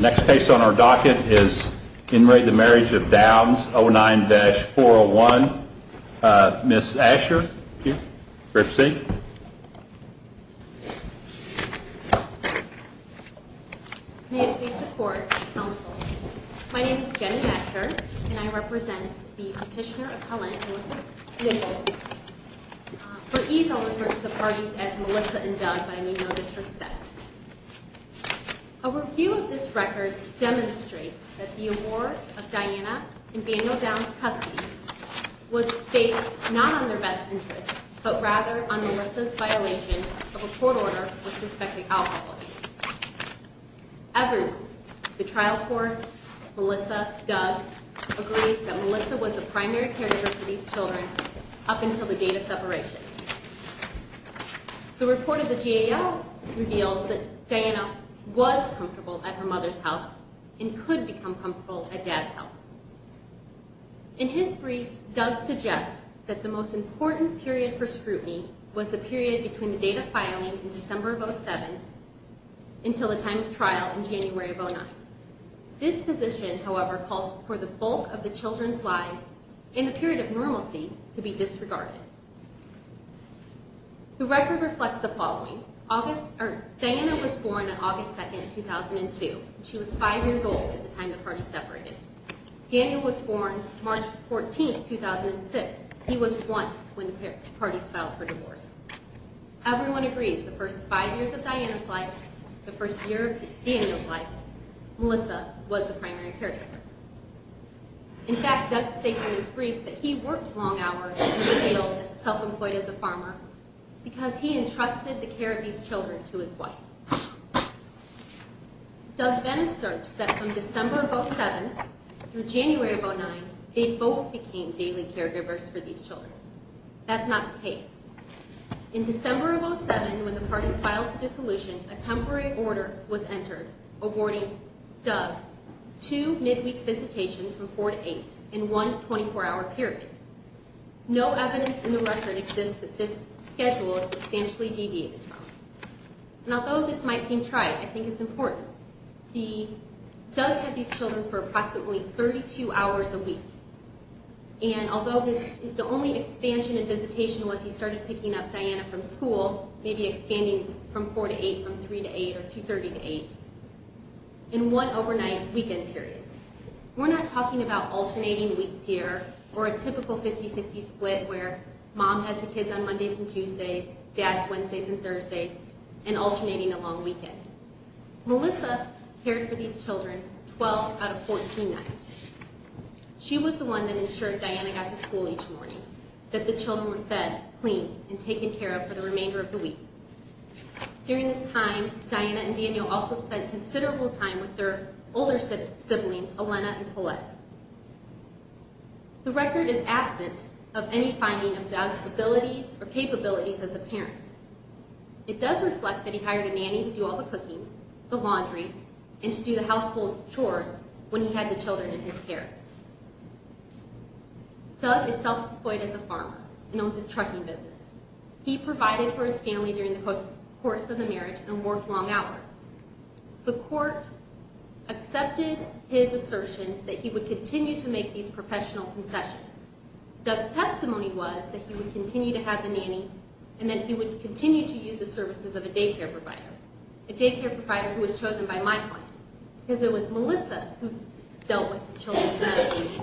Next case on our docket is In Re the Marriage of Downs 09-401. Ms. Asher, you're up next. May it please the Court, Counsel. My name is Jenny Asher, and I represent the petitioner of Holland, Melissa Nichols. For ease, I'll refer to the parties as Melissa and Doug, but I need no disrespect. A review of this record demonstrates that the award of Diana and Daniel Downs' custody was based not on their best interest, but rather on Melissa's violation of a court order with respect to alcohol use. Everyone, the trial court, Melissa, Doug, agrees that Melissa was the primary character for these children up until the date of separation. The report of the GAO reveals that Diana was comfortable at her mother's house and could become comfortable at Dad's house. In his brief, Doug suggests that the most important period for scrutiny was the period between the date of filing in December of 07 until the time of trial in January of 09. This position, however, calls for the bulk of the children's lives in the period of normalcy to be disregarded. The record reflects the following. Diana was born on August 2, 2002. She was five years old at the time the parties separated. Daniel was born March 14, 2006. He was one when the parties filed for divorce. Everyone agrees the first five years of Diana's life, the first year of Daniel's life, Melissa was the primary caregiver. In fact, Doug states in his brief that he worked long hours and was self-employed as a farmer because he entrusted the care of these children to his wife. Doug then asserts that from December of 07 through January of 09, they both became daily caregivers for these children. That's not the case. In December of 07, when the parties filed for dissolution, a temporary order was entered awarding Doug two midweek visitations from 4 to 8 in one 24-hour period. No evidence in the record exists that this schedule was substantially deviated from. And although this might seem trite, I think it's important. Doug had these children for approximately 32 hours a week. And although the only expansion in visitation was he started picking up Diana from school, maybe expanding from 4 to 8, from 3 to 8, or 2.30 to 8, in one overnight weekend period. We're not talking about alternating weeks here or a typical 50-50 split where mom has the kids on Mondays and Tuesdays, dad's Wednesdays and Thursdays, and alternating a long weekend. Melissa cared for these children 12 out of 14 nights. She was the one that ensured Diana got to school each morning, that the children were fed, cleaned, and taken care of for the remainder of the week. During this time, Diana and Daniel also spent considerable time with their older siblings, Elena and Paulette. The record is absent of any finding of Doug's abilities or capabilities as a parent. It does reflect that he hired a nanny to do all the cooking, the laundry, and to do the household chores when he had the children in his care. Doug is self-employed as a farmer and owns a trucking business. He provided for his family during the course of the marriage and worked long hours. The court accepted his assertion that he would continue to make these professional concessions. Doug's testimony was that he would continue to have the nanny and that he would continue to use the services of a daycare provider. A daycare provider who was chosen by my client because it was Melissa who dealt with the children's medical needs,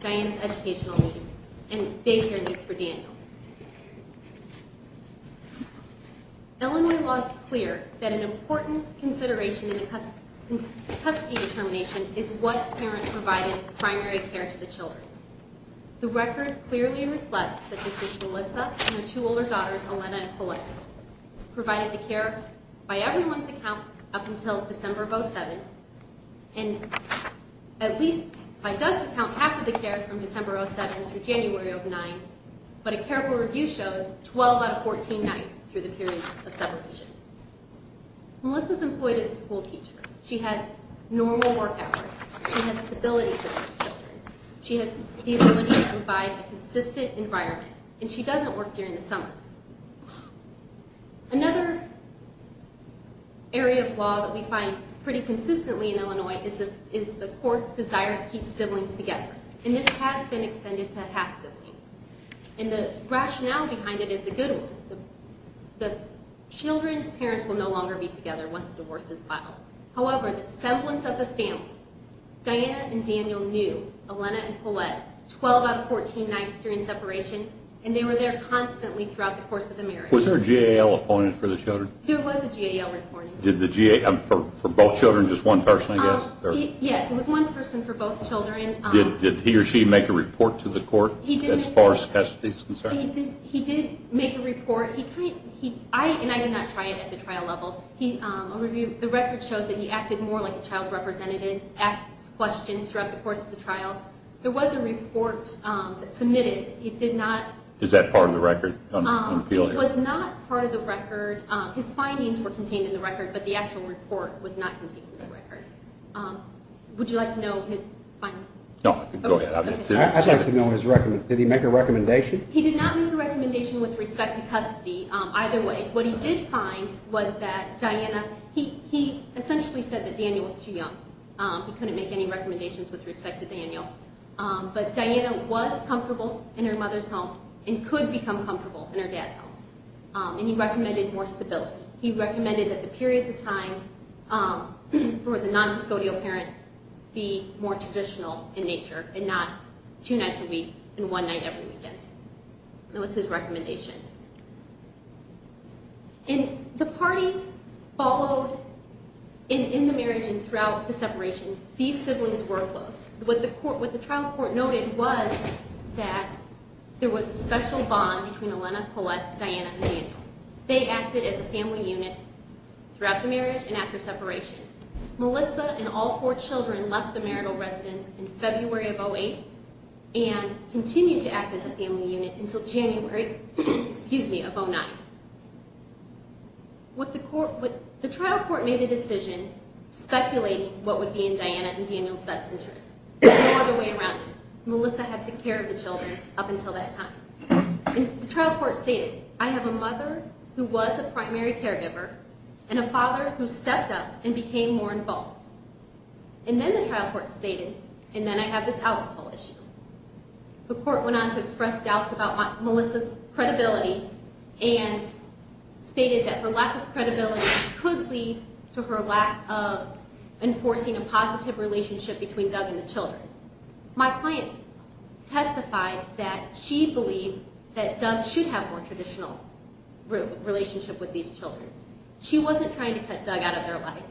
Diana's educational needs, and daycare needs for Daniel. Illinois law is clear that an important consideration in the custody determination is what parent provided primary care to the children. The record clearly reflects that Mrs. Melissa and her two older daughters, Elena and Paulette, provided the care, by everyone's account, up until December of 07, and at least, by Doug's account, half of the care from December 07 through January of 09, but a careful review shows 12 out of 14 nights through the period of separation. Melissa's employed as a school teacher. She has normal work hours. She has the ability to raise children. She has the ability to provide a consistent environment, and she doesn't work during the summers. Another area of law that we find pretty consistently in Illinois is the court's desire to keep siblings together, and this has been extended to half-siblings, and the rationale behind it is a good one. The children's parents will no longer be together once divorce is filed. However, the semblance of the family, Diana and Daniel knew Elena and Paulette 12 out of 14 nights during separation, and they were there constantly throughout the course of the marriage. Was there a GAL appointment for the children? There was a GAL appointment. For both children, just one person, I guess? Yes, it was one person for both children. Did he or she make a report to the court as far as custody is concerned? He did make a report, and I did not try it at the trial level. The record shows that he acted more like a child's representative, asked questions throughout the course of the trial. There was a report submitted. Is that part of the record? It was not part of the record. His findings were contained in the record, but the actual report was not contained in the record. Would you like to know his findings? No, go ahead. I'd like to know, did he make a recommendation? He did not make a recommendation with respect to custody either way. What he did find was that Diana, he essentially said that Daniel was too young. He couldn't make any recommendations with respect to Daniel. But Diana was comfortable in her mother's home and could become comfortable in her dad's home. And he recommended more stability. He recommended that the periods of time for the non-custodial parent be more traditional in nature and not two nights a week and one night every weekend. That was his recommendation. And the parties followed in the marriage and throughout the separation. These siblings were close. What the trial court noted was that there was a special bond between Elena, Paulette, Diana, and Daniel. They acted as a family unit throughout the marriage and after separation. Melissa and all four children left the marital residence in February of 2008 and continued to act as a family unit until January of 2009. The trial court made a decision speculating what would be in Diana and Daniel's best interest. There was no other way around it. Melissa had to take care of the children up until that time. The trial court stated, I have a mother who was a primary caregiver and a father who stepped up and became more involved. And then the trial court stated, and then I have this alcohol issue. The court went on to express doubts about Melissa's credibility and stated that her lack of credibility could lead to her lack of enforcing a positive relationship between Doug and the children. My client testified that she believed that Doug should have more traditional relationship with these children. She wasn't trying to cut Doug out of their life.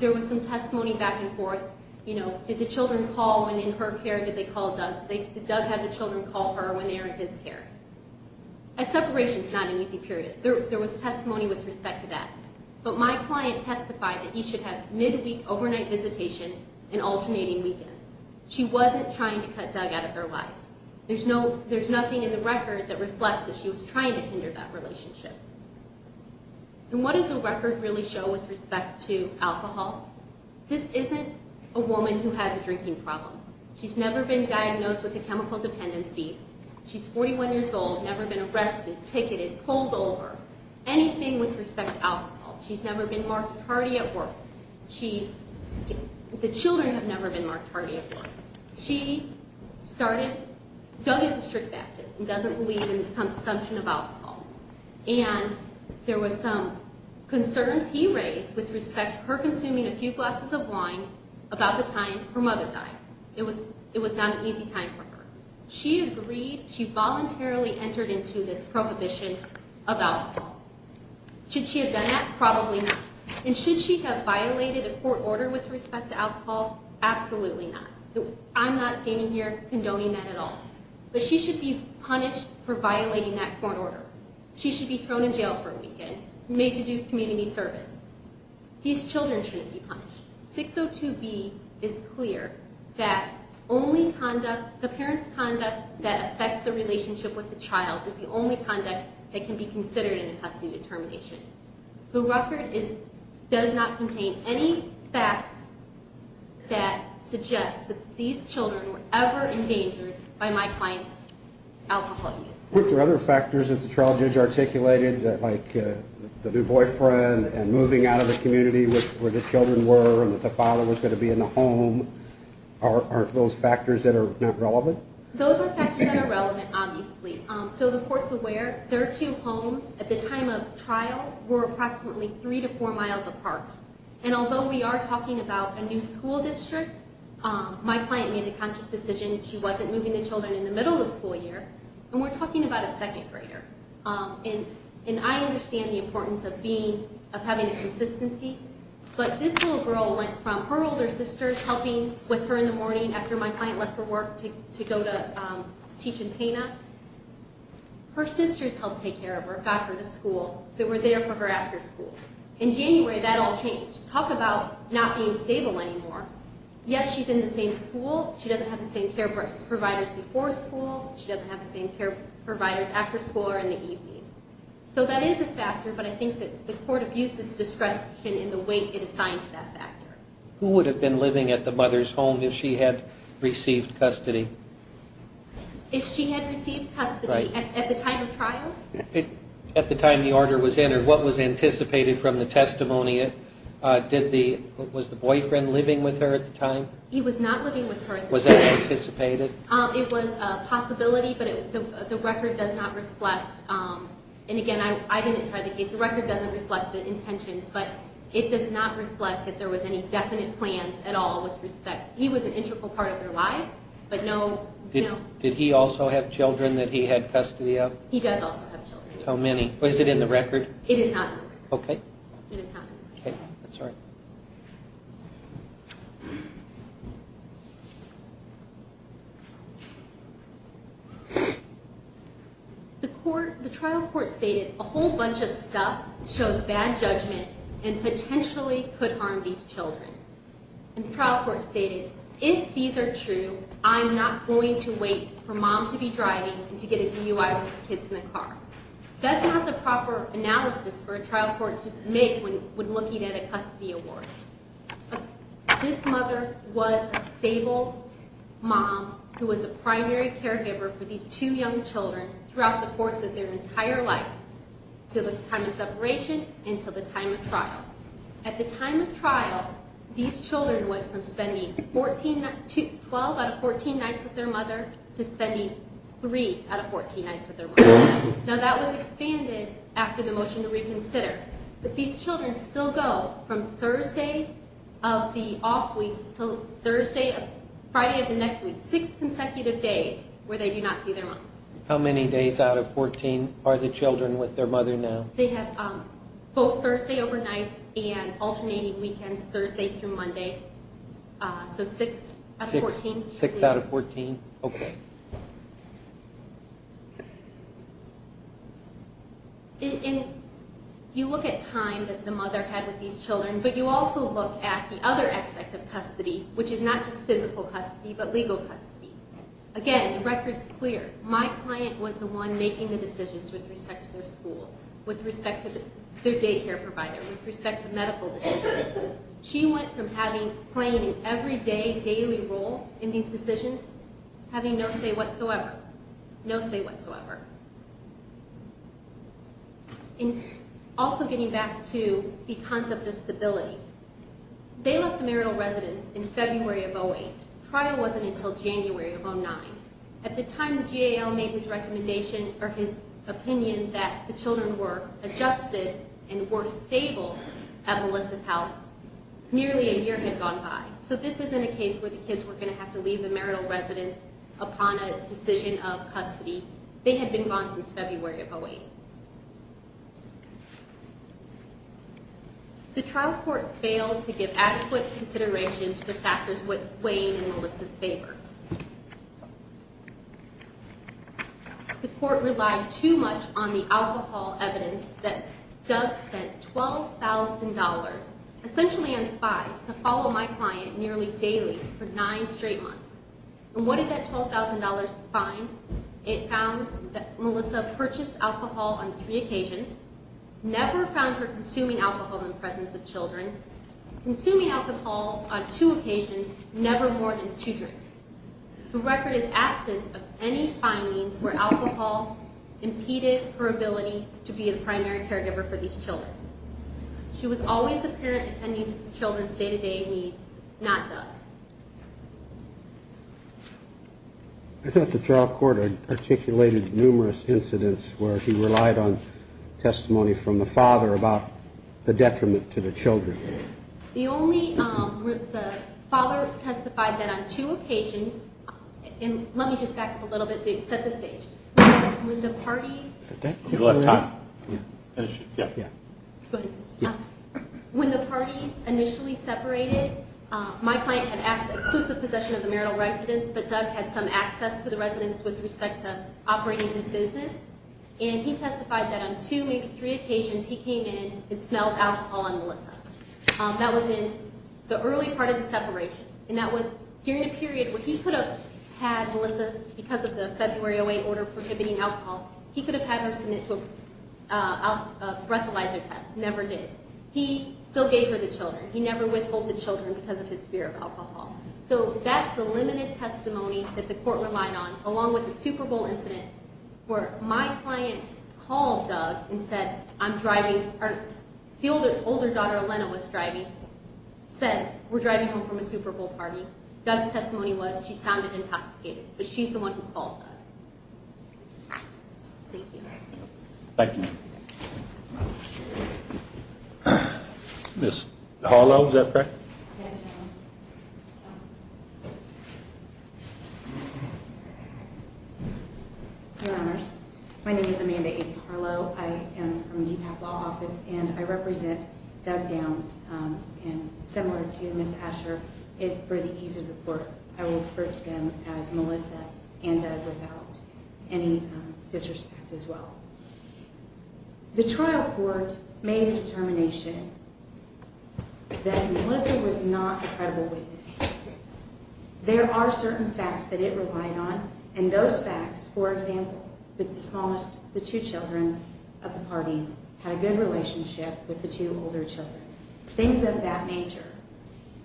There was some testimony back and forth. Did the children call when in her care? Did Doug have the children call her when they were in his care? A separation is not an easy period. There was testimony with respect to that. But my client testified that he should have midweek overnight visitation and alternating weekends. She wasn't trying to cut Doug out of their lives. There's nothing in the record that reflects that she was trying to hinder that relationship. And what does the record really show with respect to alcohol? This isn't a woman who has a drinking problem. She's never been diagnosed with a chemical dependency. She's 41 years old, never been arrested, ticketed, pulled over, anything with respect to alcohol. She's never been marked hardy at work. The children have never been marked hardy at work. She started, Doug is a strict Baptist and doesn't believe in consumption of alcohol. And there was some concerns he raised with respect to her consuming a few glasses of wine about the time her mother died. It was not an easy time for her. She agreed, she voluntarily entered into this prohibition of alcohol. Should she have done that? Probably not. And should she have violated a court order with respect to alcohol? Absolutely not. I'm not standing here condoning that at all. But she should be punished for violating that court order. She should be thrown in jail for a weekend, made to do community service. These children shouldn't be punished. 602B is clear that the parent's conduct that affects the relationship with the child is the only conduct that can be considered in a custody determination. The record does not contain any facts that suggest that these children were ever endangered by my client's alcohol use. Are there other factors that the trial judge articulated like the new boyfriend and moving out of the community where the children were and that the father was going to be in the home? Are those factors that are not relevant? Those are factors that are relevant, obviously. So the court's aware. Their two homes at the time of trial were approximately three to four miles apart. And although we are talking about a new school district, my client made the conscious decision she wasn't moving the children in the middle of the school year. And we're talking about a second grader. And I understand the importance of having a consistency. But this little girl went from her older sister helping with her in the morning after my client left for work to go to teach in Pena. Her sisters helped take care of her, got her to school. They were there for her after school. In January, that all changed. Talk about not being stable anymore. Yes, she's in the same school. She doesn't have the same care providers before school. She doesn't have the same care providers after school or in the evenings. So that is a factor, but I think that the court abused its discretion in the way it assigned to that factor. Who would have been living at the mother's home if she had received custody? If she had received custody at the time of trial? At the time the order was entered, what was anticipated from the testimony? Was the boyfriend living with her at the time? He was not living with her at the time. Was that anticipated? It was a possibility, but the record does not reflect. And, again, I didn't try the case. The record doesn't reflect the intentions, but it does not reflect that there was any definite plans at all with respect. He was an integral part of their lives, but no. Did he also have children that he had custody of? He does also have children. How many? Is it in the record? It is not in the record. Okay. It is not in the record. Okay. I'm sorry. The trial court stated a whole bunch of stuff shows bad judgment and potentially could harm these children. And the trial court stated, if these are true, I'm not going to wait for mom to be driving and to get a DUI with the kids in the car. That's not the proper analysis for a trial court to make when looking at a custody award. This mother was a stable mom who was a primary caregiver for these two young children throughout the course of their entire life, to the time of separation and to the time of trial. At the time of trial, these children went from spending 12 out of 14 nights with their mother to spending three out of 14 nights with their mom. Now, that was expanded after the motion to reconsider. But these children still go from Thursday of the off week to Friday of the next week, six consecutive days where they do not see their mom. How many days out of 14 are the children with their mother now? They have both Thursday overnights and alternating weekends, Thursday through Monday. So six out of 14. Six out of 14. Okay. You look at time that the mother had with these children, but you also look at the other aspect of custody, which is not just physical custody but legal custody. Again, the record's clear. My client was the one making the decisions with respect to their school, with respect to their daycare provider, with respect to medical decisions. She went from playing an everyday, daily role in these decisions, having no say whatsoever. No say whatsoever. And also getting back to the concept of stability. They left the marital residence in February of 08. Trial wasn't until January of 09. At the time the GAL made his recommendation or his opinion that the children were adjusted and were stable at Melissa's house, nearly a year had gone by. So this isn't a case where the kids were going to have to leave the marital residence upon a decision of custody. They had been gone since February of 08. The trial court failed to give adequate consideration to the factors weighing in Melissa's favor. The court relied too much on the alcohol evidence that Dove spent $12,000, essentially on spies, to follow my client nearly daily for nine straight months. And what did that $12,000 find? It found that Melissa purchased alcohol on three occasions, never found her consuming alcohol in the presence of children, consuming alcohol on two occasions, never more than two drinks. The record is absent of any findings where alcohol impeded her ability to be the primary caregiver for these children. She was always the parent attending to the children's day-to-day needs, not Dove. I thought the trial court articulated numerous incidents where he relied on testimony from the father about the detriment to the children. The only – the father testified that on two occasions – and let me just back up a little bit so you can set the stage. When the parties initially separated, my client had exclusive possession of the marital residence, but Dove had some access to the residence with respect to operating his business. And he testified that on two, maybe three occasions, he came in and smelled alcohol on Melissa. That was in the early part of the separation, and that was during a period where he could have had Melissa, because of the February 08 order prohibiting alcohol, he could have had her submit to a breathalyzer test. Never did. He still gave her the children. He never withheld the children because of his fear of alcohol. So that's the limited testimony that the court relied on, along with the Super Bowl incident, where my client called Dove and said, I'm driving – or the older daughter, Elena, was driving, said, we're driving home from a Super Bowl party. Dove's testimony was she sounded intoxicated, but she's the one who called Dove. Thank you. Thank you. Ms. Harlow, is that correct? Yes, Your Honor. Your Honors, my name is Amanda A. Harlow. I am from the DPAC Law Office, and I represent Dove Downs. And similar to Ms. Asher, for the ease of the court, I will refer to them as Melissa and Dove without any disrespect as well. The trial court made a determination that Melissa was not a credible witness. There are certain facts that it relied on, and those facts, for example, that the two children of the parties had a good relationship with the two older children. Things of that nature.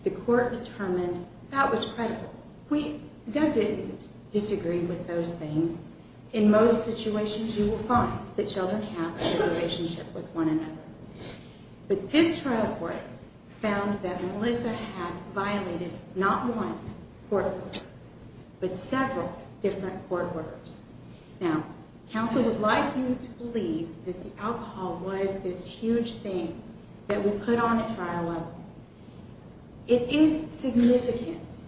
The court determined that was credible. We – Dove didn't disagree with those things. In most situations, you will find that children have a good relationship with one another. But this trial court found that Melissa had violated not one court order, but several different court orders. Now, counsel would like you to believe that the alcohol was this huge thing that we put on at trial level. It is significant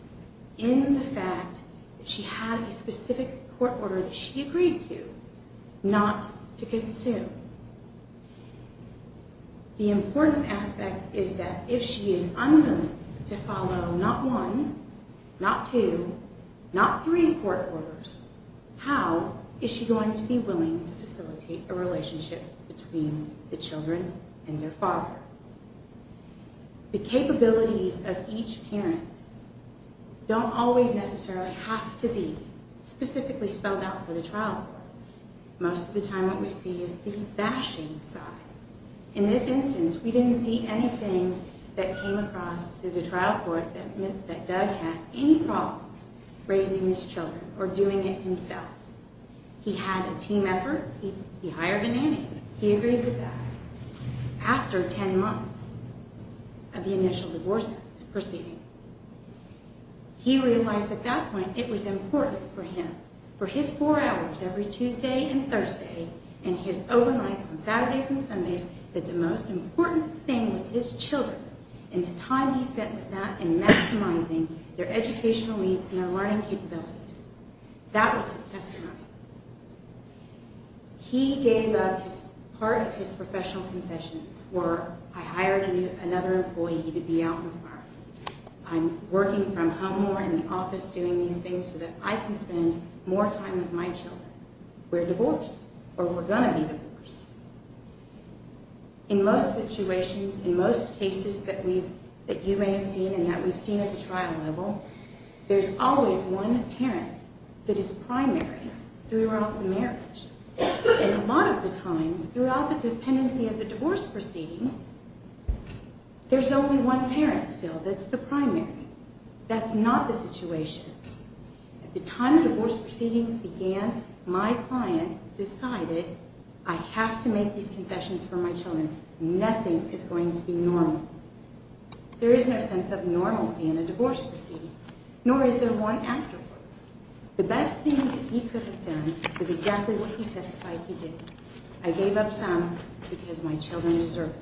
in the fact that she had a specific court order that she agreed to not to consume. The important aspect is that if she is unwilling to follow not one, not two, not three court orders, how is she going to be willing to facilitate a relationship between the children and their father? The capabilities of each parent don't always necessarily have to be specifically spelled out for the trial court. Most of the time, what we see is the bashing side. In this instance, we didn't see anything that came across to the trial court that meant that Dove had any problems raising these children or doing it himself. He had a team effort. He hired a nanny. He agreed with that. After ten months of the initial divorce proceeding, he realized at that point it was important for him, for his four hours every Tuesday and Thursday and his overnights on Saturdays and Sundays, that the most important thing was his children and the time he spent with that and maximizing their educational needs and their learning capabilities. That was his testimony. He gave up part of his professional concessions where I hired another employee to be out in the park. I'm working from home more in the office doing these things so that I can spend more time with my children. We're divorced or we're going to be divorced. In most situations, in most cases that you may have seen and that we've seen at the trial level, there's always one parent that is primary throughout the marriage. A lot of the times, throughout the dependency of the divorce proceedings, there's only one parent still that's the primary. At the time the divorce proceedings began, my client decided I have to make these concessions for my children. Nothing is going to be normal. There is no sense of normalcy in a divorce proceeding, nor is there one afterwards. The best thing that he could have done is exactly what he testified he did. I gave up some because my children deserve it.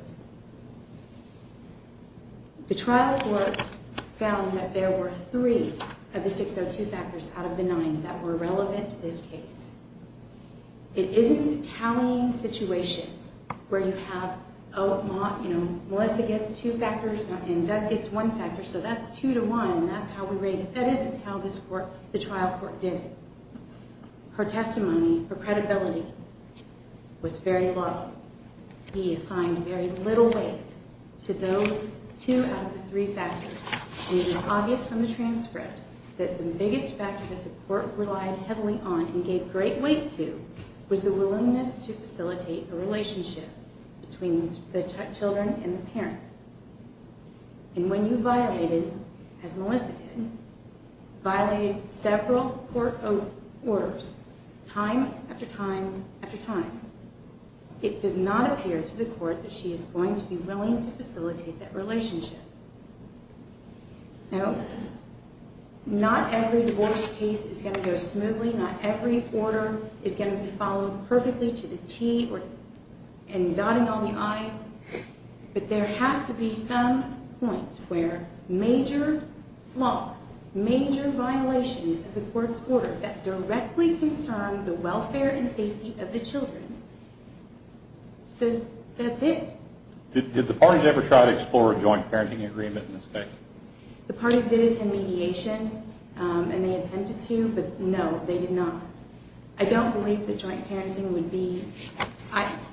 The trial court found that there were three of the 602 factors out of the nine that were relevant to this case. It isn't a tallying situation where you have Melissa gets two factors and Doug gets one factor, so that's two to one. That's how we rate it. That isn't how the trial court did it. Her testimony, her credibility was very low. He assigned very little weight to those two out of the three factors. It was obvious from the transcript that the biggest factor that the court relied heavily on and gave great weight to was the willingness to facilitate a relationship between the children and the parents. And when you violated, as Melissa did, violated several court orders, time after time after time, it does not appear to the court that she is going to be willing to facilitate that relationship. Now, not every divorce case is going to go smoothly. Not every order is going to be followed perfectly to the T and dotting all the I's. But there has to be some point where major flaws, major violations of the court's order that directly concern the welfare and safety of the children. So that's it. Did the parties ever try to explore a joint parenting agreement in this case? The parties did attend mediation, and they attempted to, but no, they did not. I don't believe that joint parenting would be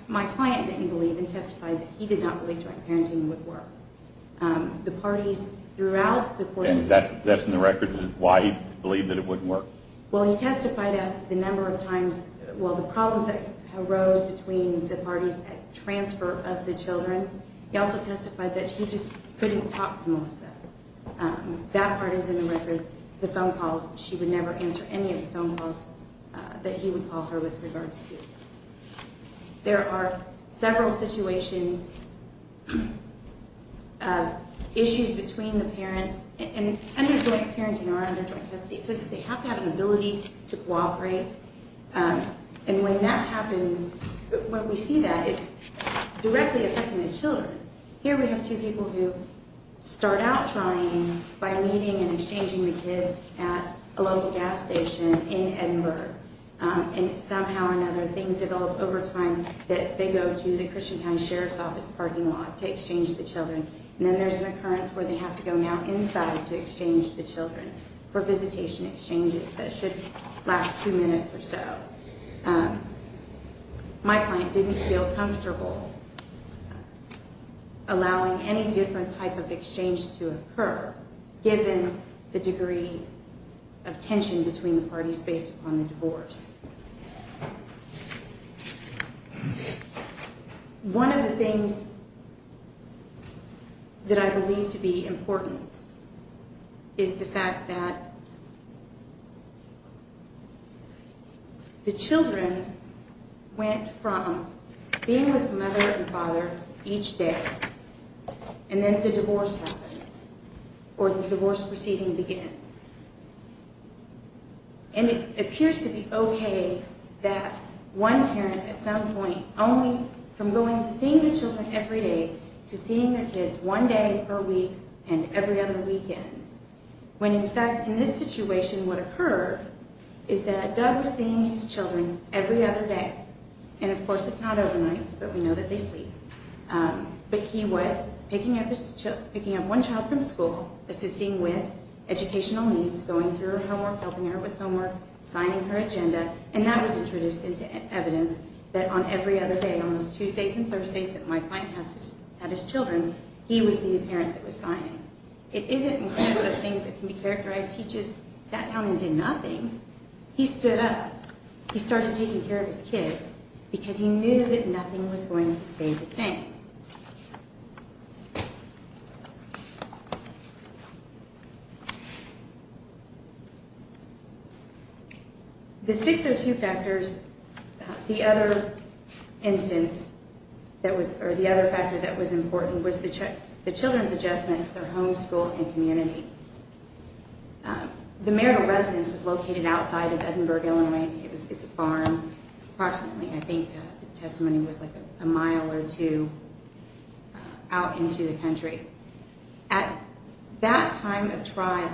my client didn't believe and testified that he did not believe joint parenting would work. And that's in the record? Why he believed that it wouldn't work? Well, he testified the number of times, well, the problems that arose between the parties at transfer of the children. He also testified that he just couldn't talk to Melissa. That part is in the record, the phone calls. She would never answer any of the phone calls that he would call her with regards to. There are several situations, issues between the parents, and under joint parenting or under joint custody, it says that they have to have an ability to cooperate. And when that happens, when we see that, it's directly affecting the children. Here we have two people who start out trying by meeting and exchanging the kids at a local gas station in Edinburgh. And somehow or another, things develop over time that they go to the Christian County Sheriff's Office parking lot to exchange the children. And then there's an occurrence where they have to go now inside to exchange the children for visitation exchanges that should last two minutes or so. My client didn't feel comfortable allowing any different type of exchange to occur, given the degree of tension between the parties based upon the divorce. One of the things that I believe to be important is the fact that the children went from being with mother and father each day, and then the divorce happens, or the divorce proceeding begins. And it appears to be okay that one parent, at some point, only from going to seeing the children every day to seeing their kids one day per week and every other weekend, when in fact, in this situation, what occurred is that Doug was seeing his children every other day. And of course, it's not overnight, but we know that they sleep. But he was picking up one child from school, assisting with educational needs, going through her homework, helping her with homework, signing her agenda, and that was introduced into evidence that on every other day, on those Tuesdays and Thursdays that my client had his children, he was the parent that was signing. It isn't one of those things that can be characterized. He just sat down and did nothing. He stood up. He started taking care of his kids, because he knew that nothing was going to stay the same. The 602 factors, the other instance, or the other factor that was important was the children's adjustment to their home, school, and community. The marital residence was located outside of Edinburgh, Illinois. It's a farm, approximately. I think the testimony was like a mile or two out into the country. At that time of trial,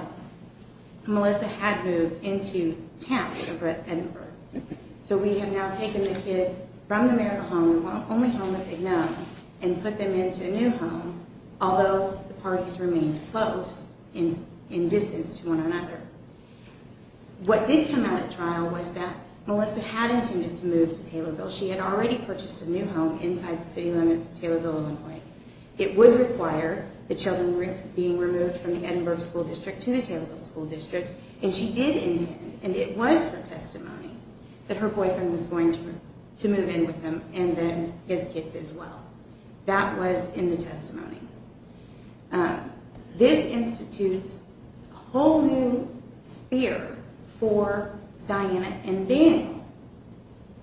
Melissa had moved into Tampa, Edinburgh. So we have now taken the kids from the marital home, the only home that they know, and put them into a new home, although the parties remained close in distance to one another. What did come out at trial was that Melissa had intended to move to Taylorville. She had already purchased a new home inside the city limits of Taylorville, Illinois. It would require the children being removed from the Edinburgh School District to the Taylorville School District, and she did intend, and it was her testimony that her boyfriend was going to move in with them and then his kids as well. That was in the testimony. This institutes a whole new sphere for Diana, and then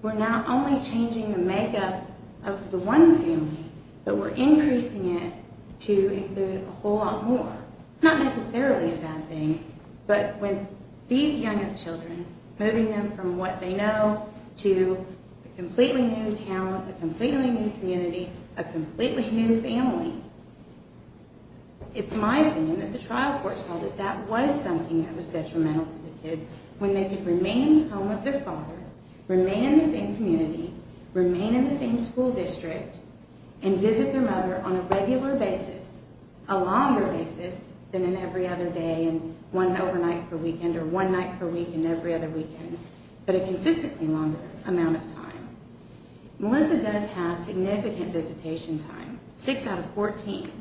we're not only changing the makeup of the one family, but we're increasing it to include a whole lot more. Not necessarily a bad thing, but with these younger children, moving them from what they know to a completely new town, a completely new community, a completely new family. It's my opinion that the trial court saw that that was something that was detrimental to the kids when they could remain in the home of their father, remain in the same community, remain in the same school district, and visit their mother on a regular basis, a longer basis than in every other day and one overnight per weekend or one night per week and every other weekend, but a consistently longer amount of time. Melissa does have significant visitation time, 6 out of 14,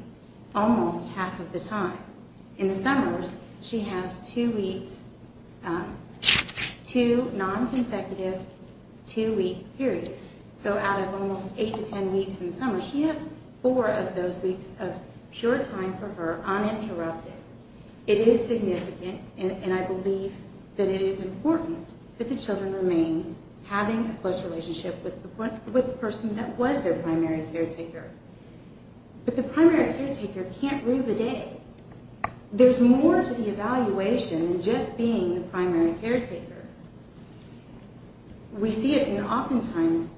almost half of the time. In the summers, she has 2 weeks, 2 non-consecutive 2-week periods, so out of almost 8 to 10 weeks in the summer, she has 4 of those weeks of pure time for her uninterrupted. It is significant, and I believe that it is important that the children remain having a close relationship with the person that was their primary caretaker. But the primary caretaker can't rule the day. There's more to the evaluation than just being the primary caretaker. We see it oftentimes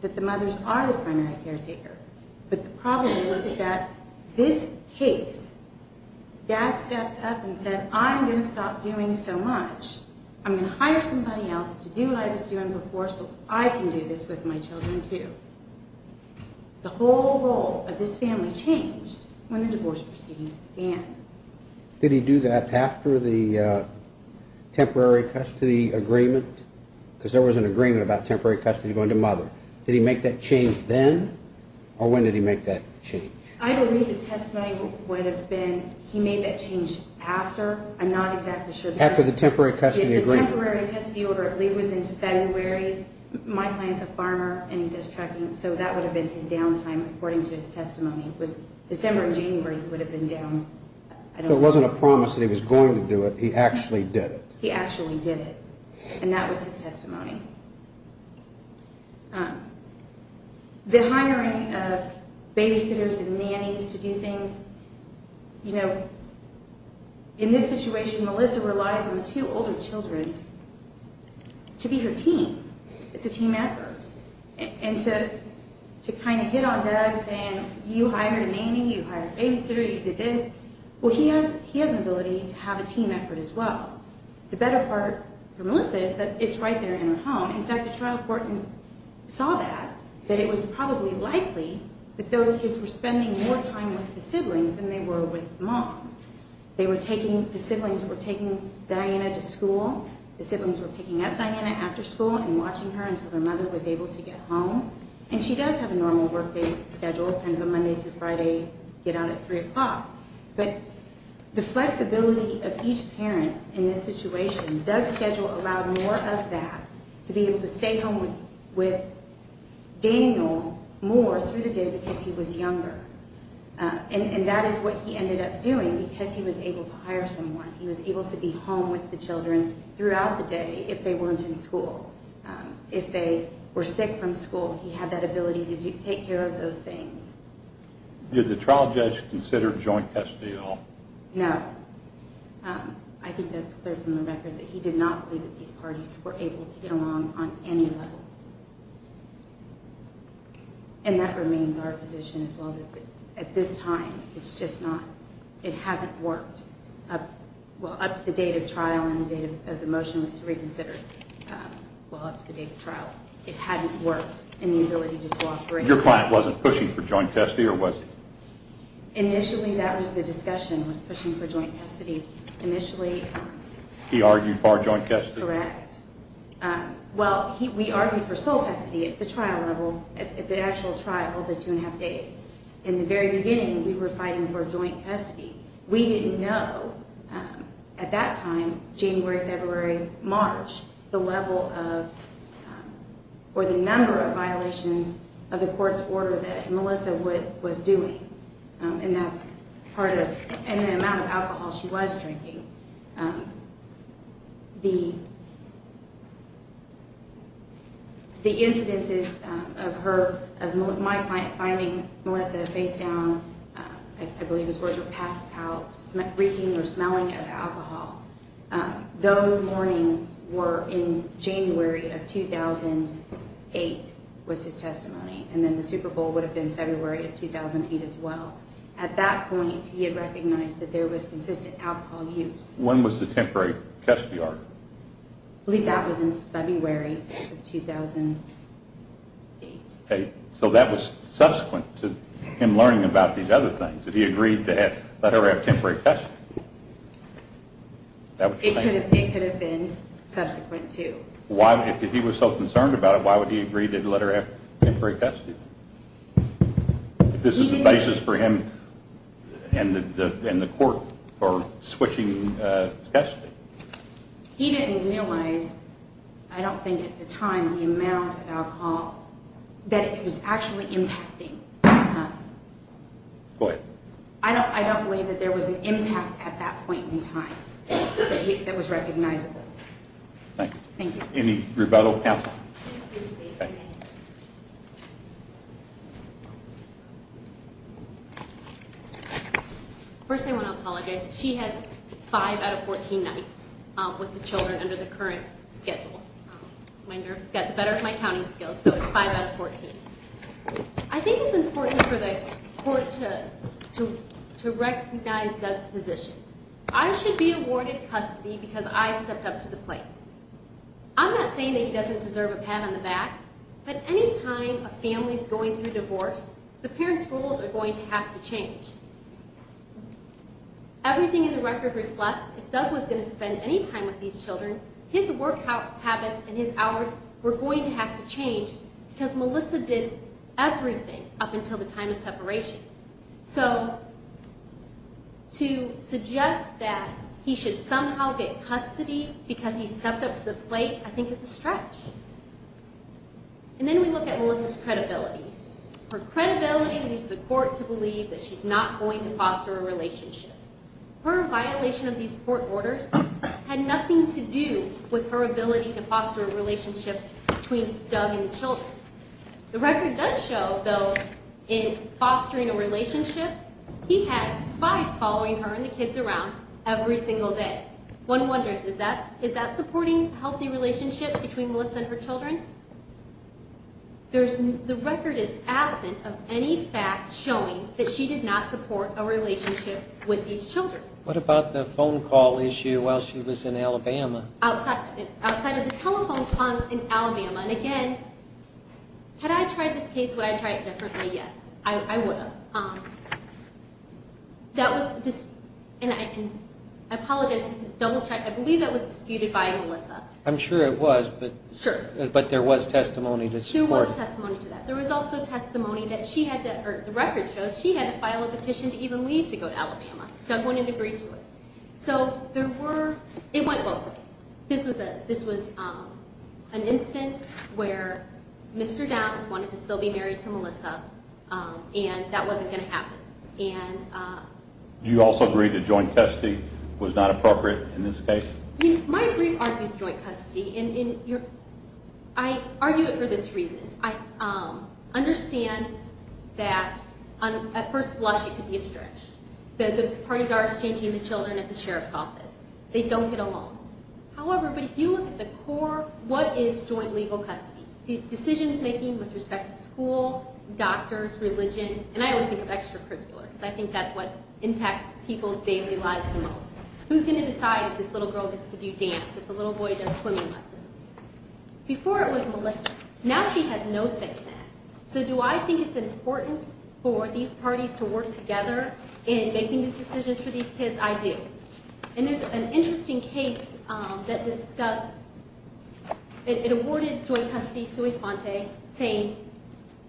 that the mothers are the primary caretaker, but the problem is that this case, dad stepped up and said, I'm going to stop doing so much. I'm going to hire somebody else to do what I was doing before so I can do this with my children too. The whole role of this family changed when the divorce proceedings began. Did he do that after the temporary custody agreement? Because there was an agreement about temporary custody going to mother. Did he make that change then, or when did he make that change? I believe his testimony would have been he made that change after. I'm not exactly sure. After the temporary custody agreement. The temporary custody agreement was in February. My client's a farmer and he does trucking, so that would have been his downtime according to his testimony. It was December and January he would have been down. So it wasn't a promise that he was going to do it. He actually did it. He actually did it, and that was his testimony. The hiring of babysitters and nannies to do things, in this situation Melissa relies on the two older children to be her team. It's a team effort. And to kind of hit on Doug saying you hired a nanny, you hired a babysitter, you did this. Well, he has an ability to have a team effort as well. The better part for Melissa is that it's right there in her home. In fact, the trial court saw that, that it was probably likely that those kids were spending more time with the siblings than they were with mom. The siblings were taking Diana to school. The siblings were picking up Diana after school and watching her until her mother was able to get home. And she does have a normal workday schedule, kind of a Monday through Friday, get out at 3 o'clock. But the flexibility of each parent in this situation, Doug's schedule allowed more of that to be able to stay home with Daniel more through the day because he was younger. And that is what he ended up doing because he was able to hire someone. He was able to be home with the children throughout the day if they weren't in school. If they were sick from school, he had that ability to take care of those things. Did the trial judge consider joint custody at all? No. I think that's clear from the record that he did not believe that these parties were able to get along on any level. And that remains our position as well, that at this time it's just not, it hasn't worked. Up to the date of trial and the date of the motion to reconsider, well, up to the date of trial, it hadn't worked in the ability to cooperate. Your client wasn't pushing for joint custody or was he? Initially, that was the discussion, was pushing for joint custody. Initially... He argued for joint custody? Correct. Well, we argued for sole custody at the trial level, at the actual trial, the two and a half days. In the very beginning, we were fighting for joint custody. We didn't know at that time, January, February, March, the level of, or the number of violations of the court's order that Melissa was doing. And that's part of, and the amount of alcohol she was drinking. The incidences of her, of my finding Melissa face down, I believe those words were passed out, reeking or smelling of alcohol. Those warnings were in January of 2008 was his testimony. And then the Super Bowl would have been February of 2008 as well. At that point, he had recognized that there was consistent alcohol use. When was the temporary custody order? I believe that was in February of 2008. So that was subsequent to him learning about these other things, that he agreed to let her have temporary custody. It could have been subsequent to. If he was so concerned about it, why would he agree to let her have temporary custody? If this is the basis for him and the court for switching custody. He didn't realize, I don't think at the time, the amount of alcohol that it was actually impacting on her. Go ahead. I don't believe that there was an impact at that point in time that was recognizable. Thank you. Any rebuttal panel? First I want to apologize. She has five out of 14 nights with the children under the current schedule. My nerves got the better of my counting skills, so it's five out of 14. I think it's important for the court to recognize Doug's position. I should be awarded custody because I stepped up to the plate. I'm not saying that he doesn't deserve a pat on the back, but any time a family is going through divorce, the parents' rules are going to have to change. Everything in the record reflects, if Doug was going to spend any time with these children, his workout habits and his hours were going to have to change because Melissa did everything up until the time of separation. So to suggest that he should somehow get custody because he stepped up to the plate I think is a stretch. And then we look at Melissa's credibility. Her credibility leads the court to believe that she's not going to foster a relationship. Her violation of these court orders had nothing to do with her ability to foster a relationship between Doug and the children. The record does show, though, in fostering a relationship, he had spies following her and the kids around every single day. One wonders, is that supporting a healthy relationship between Melissa and her children? The record is absent of any facts showing that she did not support a relationship with these children. What about the phone call issue while she was in Alabama? Outside of the telephone call in Alabama. And again, had I tried this case, would I have tried it differently? Yes, I would have. And I apologize, I had to double-check. I believe that was disputed by Melissa. I'm sure it was, but there was testimony to support it. There was testimony to that. There was also testimony that the record shows that she had to file a petition to even leave to go to Alabama. Doug wouldn't agree to it. So it went both ways. This was an instance where Mr. Downs wanted to still be married to Melissa and that wasn't going to happen. Do you also agree that joint custody was not appropriate in this case? My brief argues joint custody. I argue it for this reason. I understand that at first blush it could be a stretch, that the parties are exchanging the children at the sheriff's office. They don't get along. However, if you look at the core, what is joint legal custody? Decisions making with respect to school, doctors, religion, and I always think of extracurricular because I think that's what impacts people's daily lives the most. Who's going to decide if this little girl gets to do dance, if the little boy does swimming lessons? Before it was Melissa. Now she has no say in that. So do I think it's important for these parties to work together in making these decisions for these kids? I do. And there's an interesting case that discussed, it awarded joint custody sui sponte, saying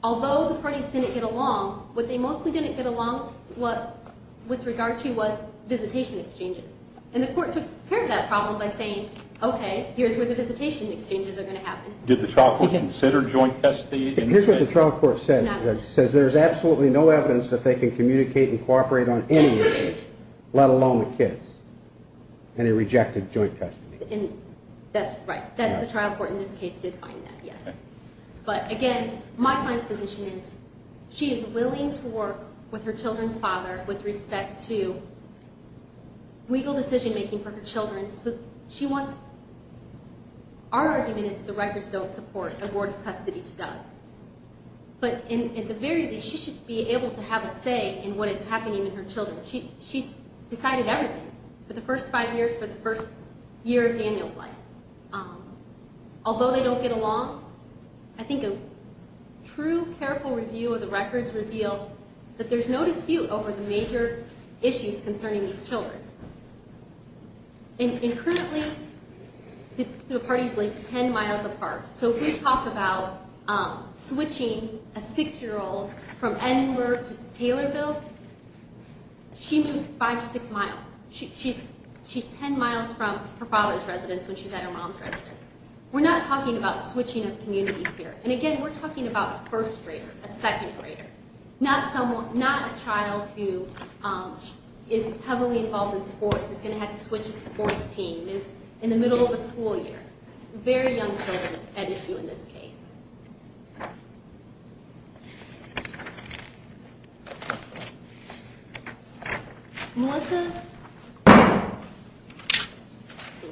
although the parties didn't get along, what they mostly didn't get along with regard to was visitation exchanges. And the court took care of that problem by saying, okay, here's where the visitation exchanges are going to happen. Did the trial court consider joint custody? Here's what the trial court said. It says there's absolutely no evidence that they can communicate and cooperate on any issues, let alone the kids. And it rejected joint custody. That's right. That's the trial court in this case did find that, yes. But again, my client's position is she is willing to work with her children's father with respect to legal decision making for her children. Our argument is that the records don't support a board of custody to Doug. But at the very least, she should be able to have a say in what is happening with her children. She's decided everything for the first five years, for the first year of Daniel's life. Although they don't get along, I think a true careful review of the records reveal that there's no dispute over the major issues concerning these children. And currently, the party's like ten miles apart. So if we talk about switching a six-year-old from Enver to Taylorville, she moved five to six miles. She's ten miles from her father's residence when she's at her mom's residence. We're not talking about switching of communities here. And again, we're talking about a first grader, a second grader, not a child who is heavily involved in sports, is going to have to switch a sports team, is in the middle of a school year. Very young children at issue in this case. Melissa? Thank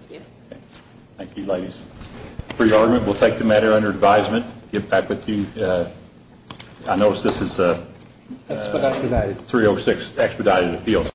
you. Thank you, ladies. For your argument, we'll take the matter under advisement. Get back with you. I notice this is a 306 expedited appeal.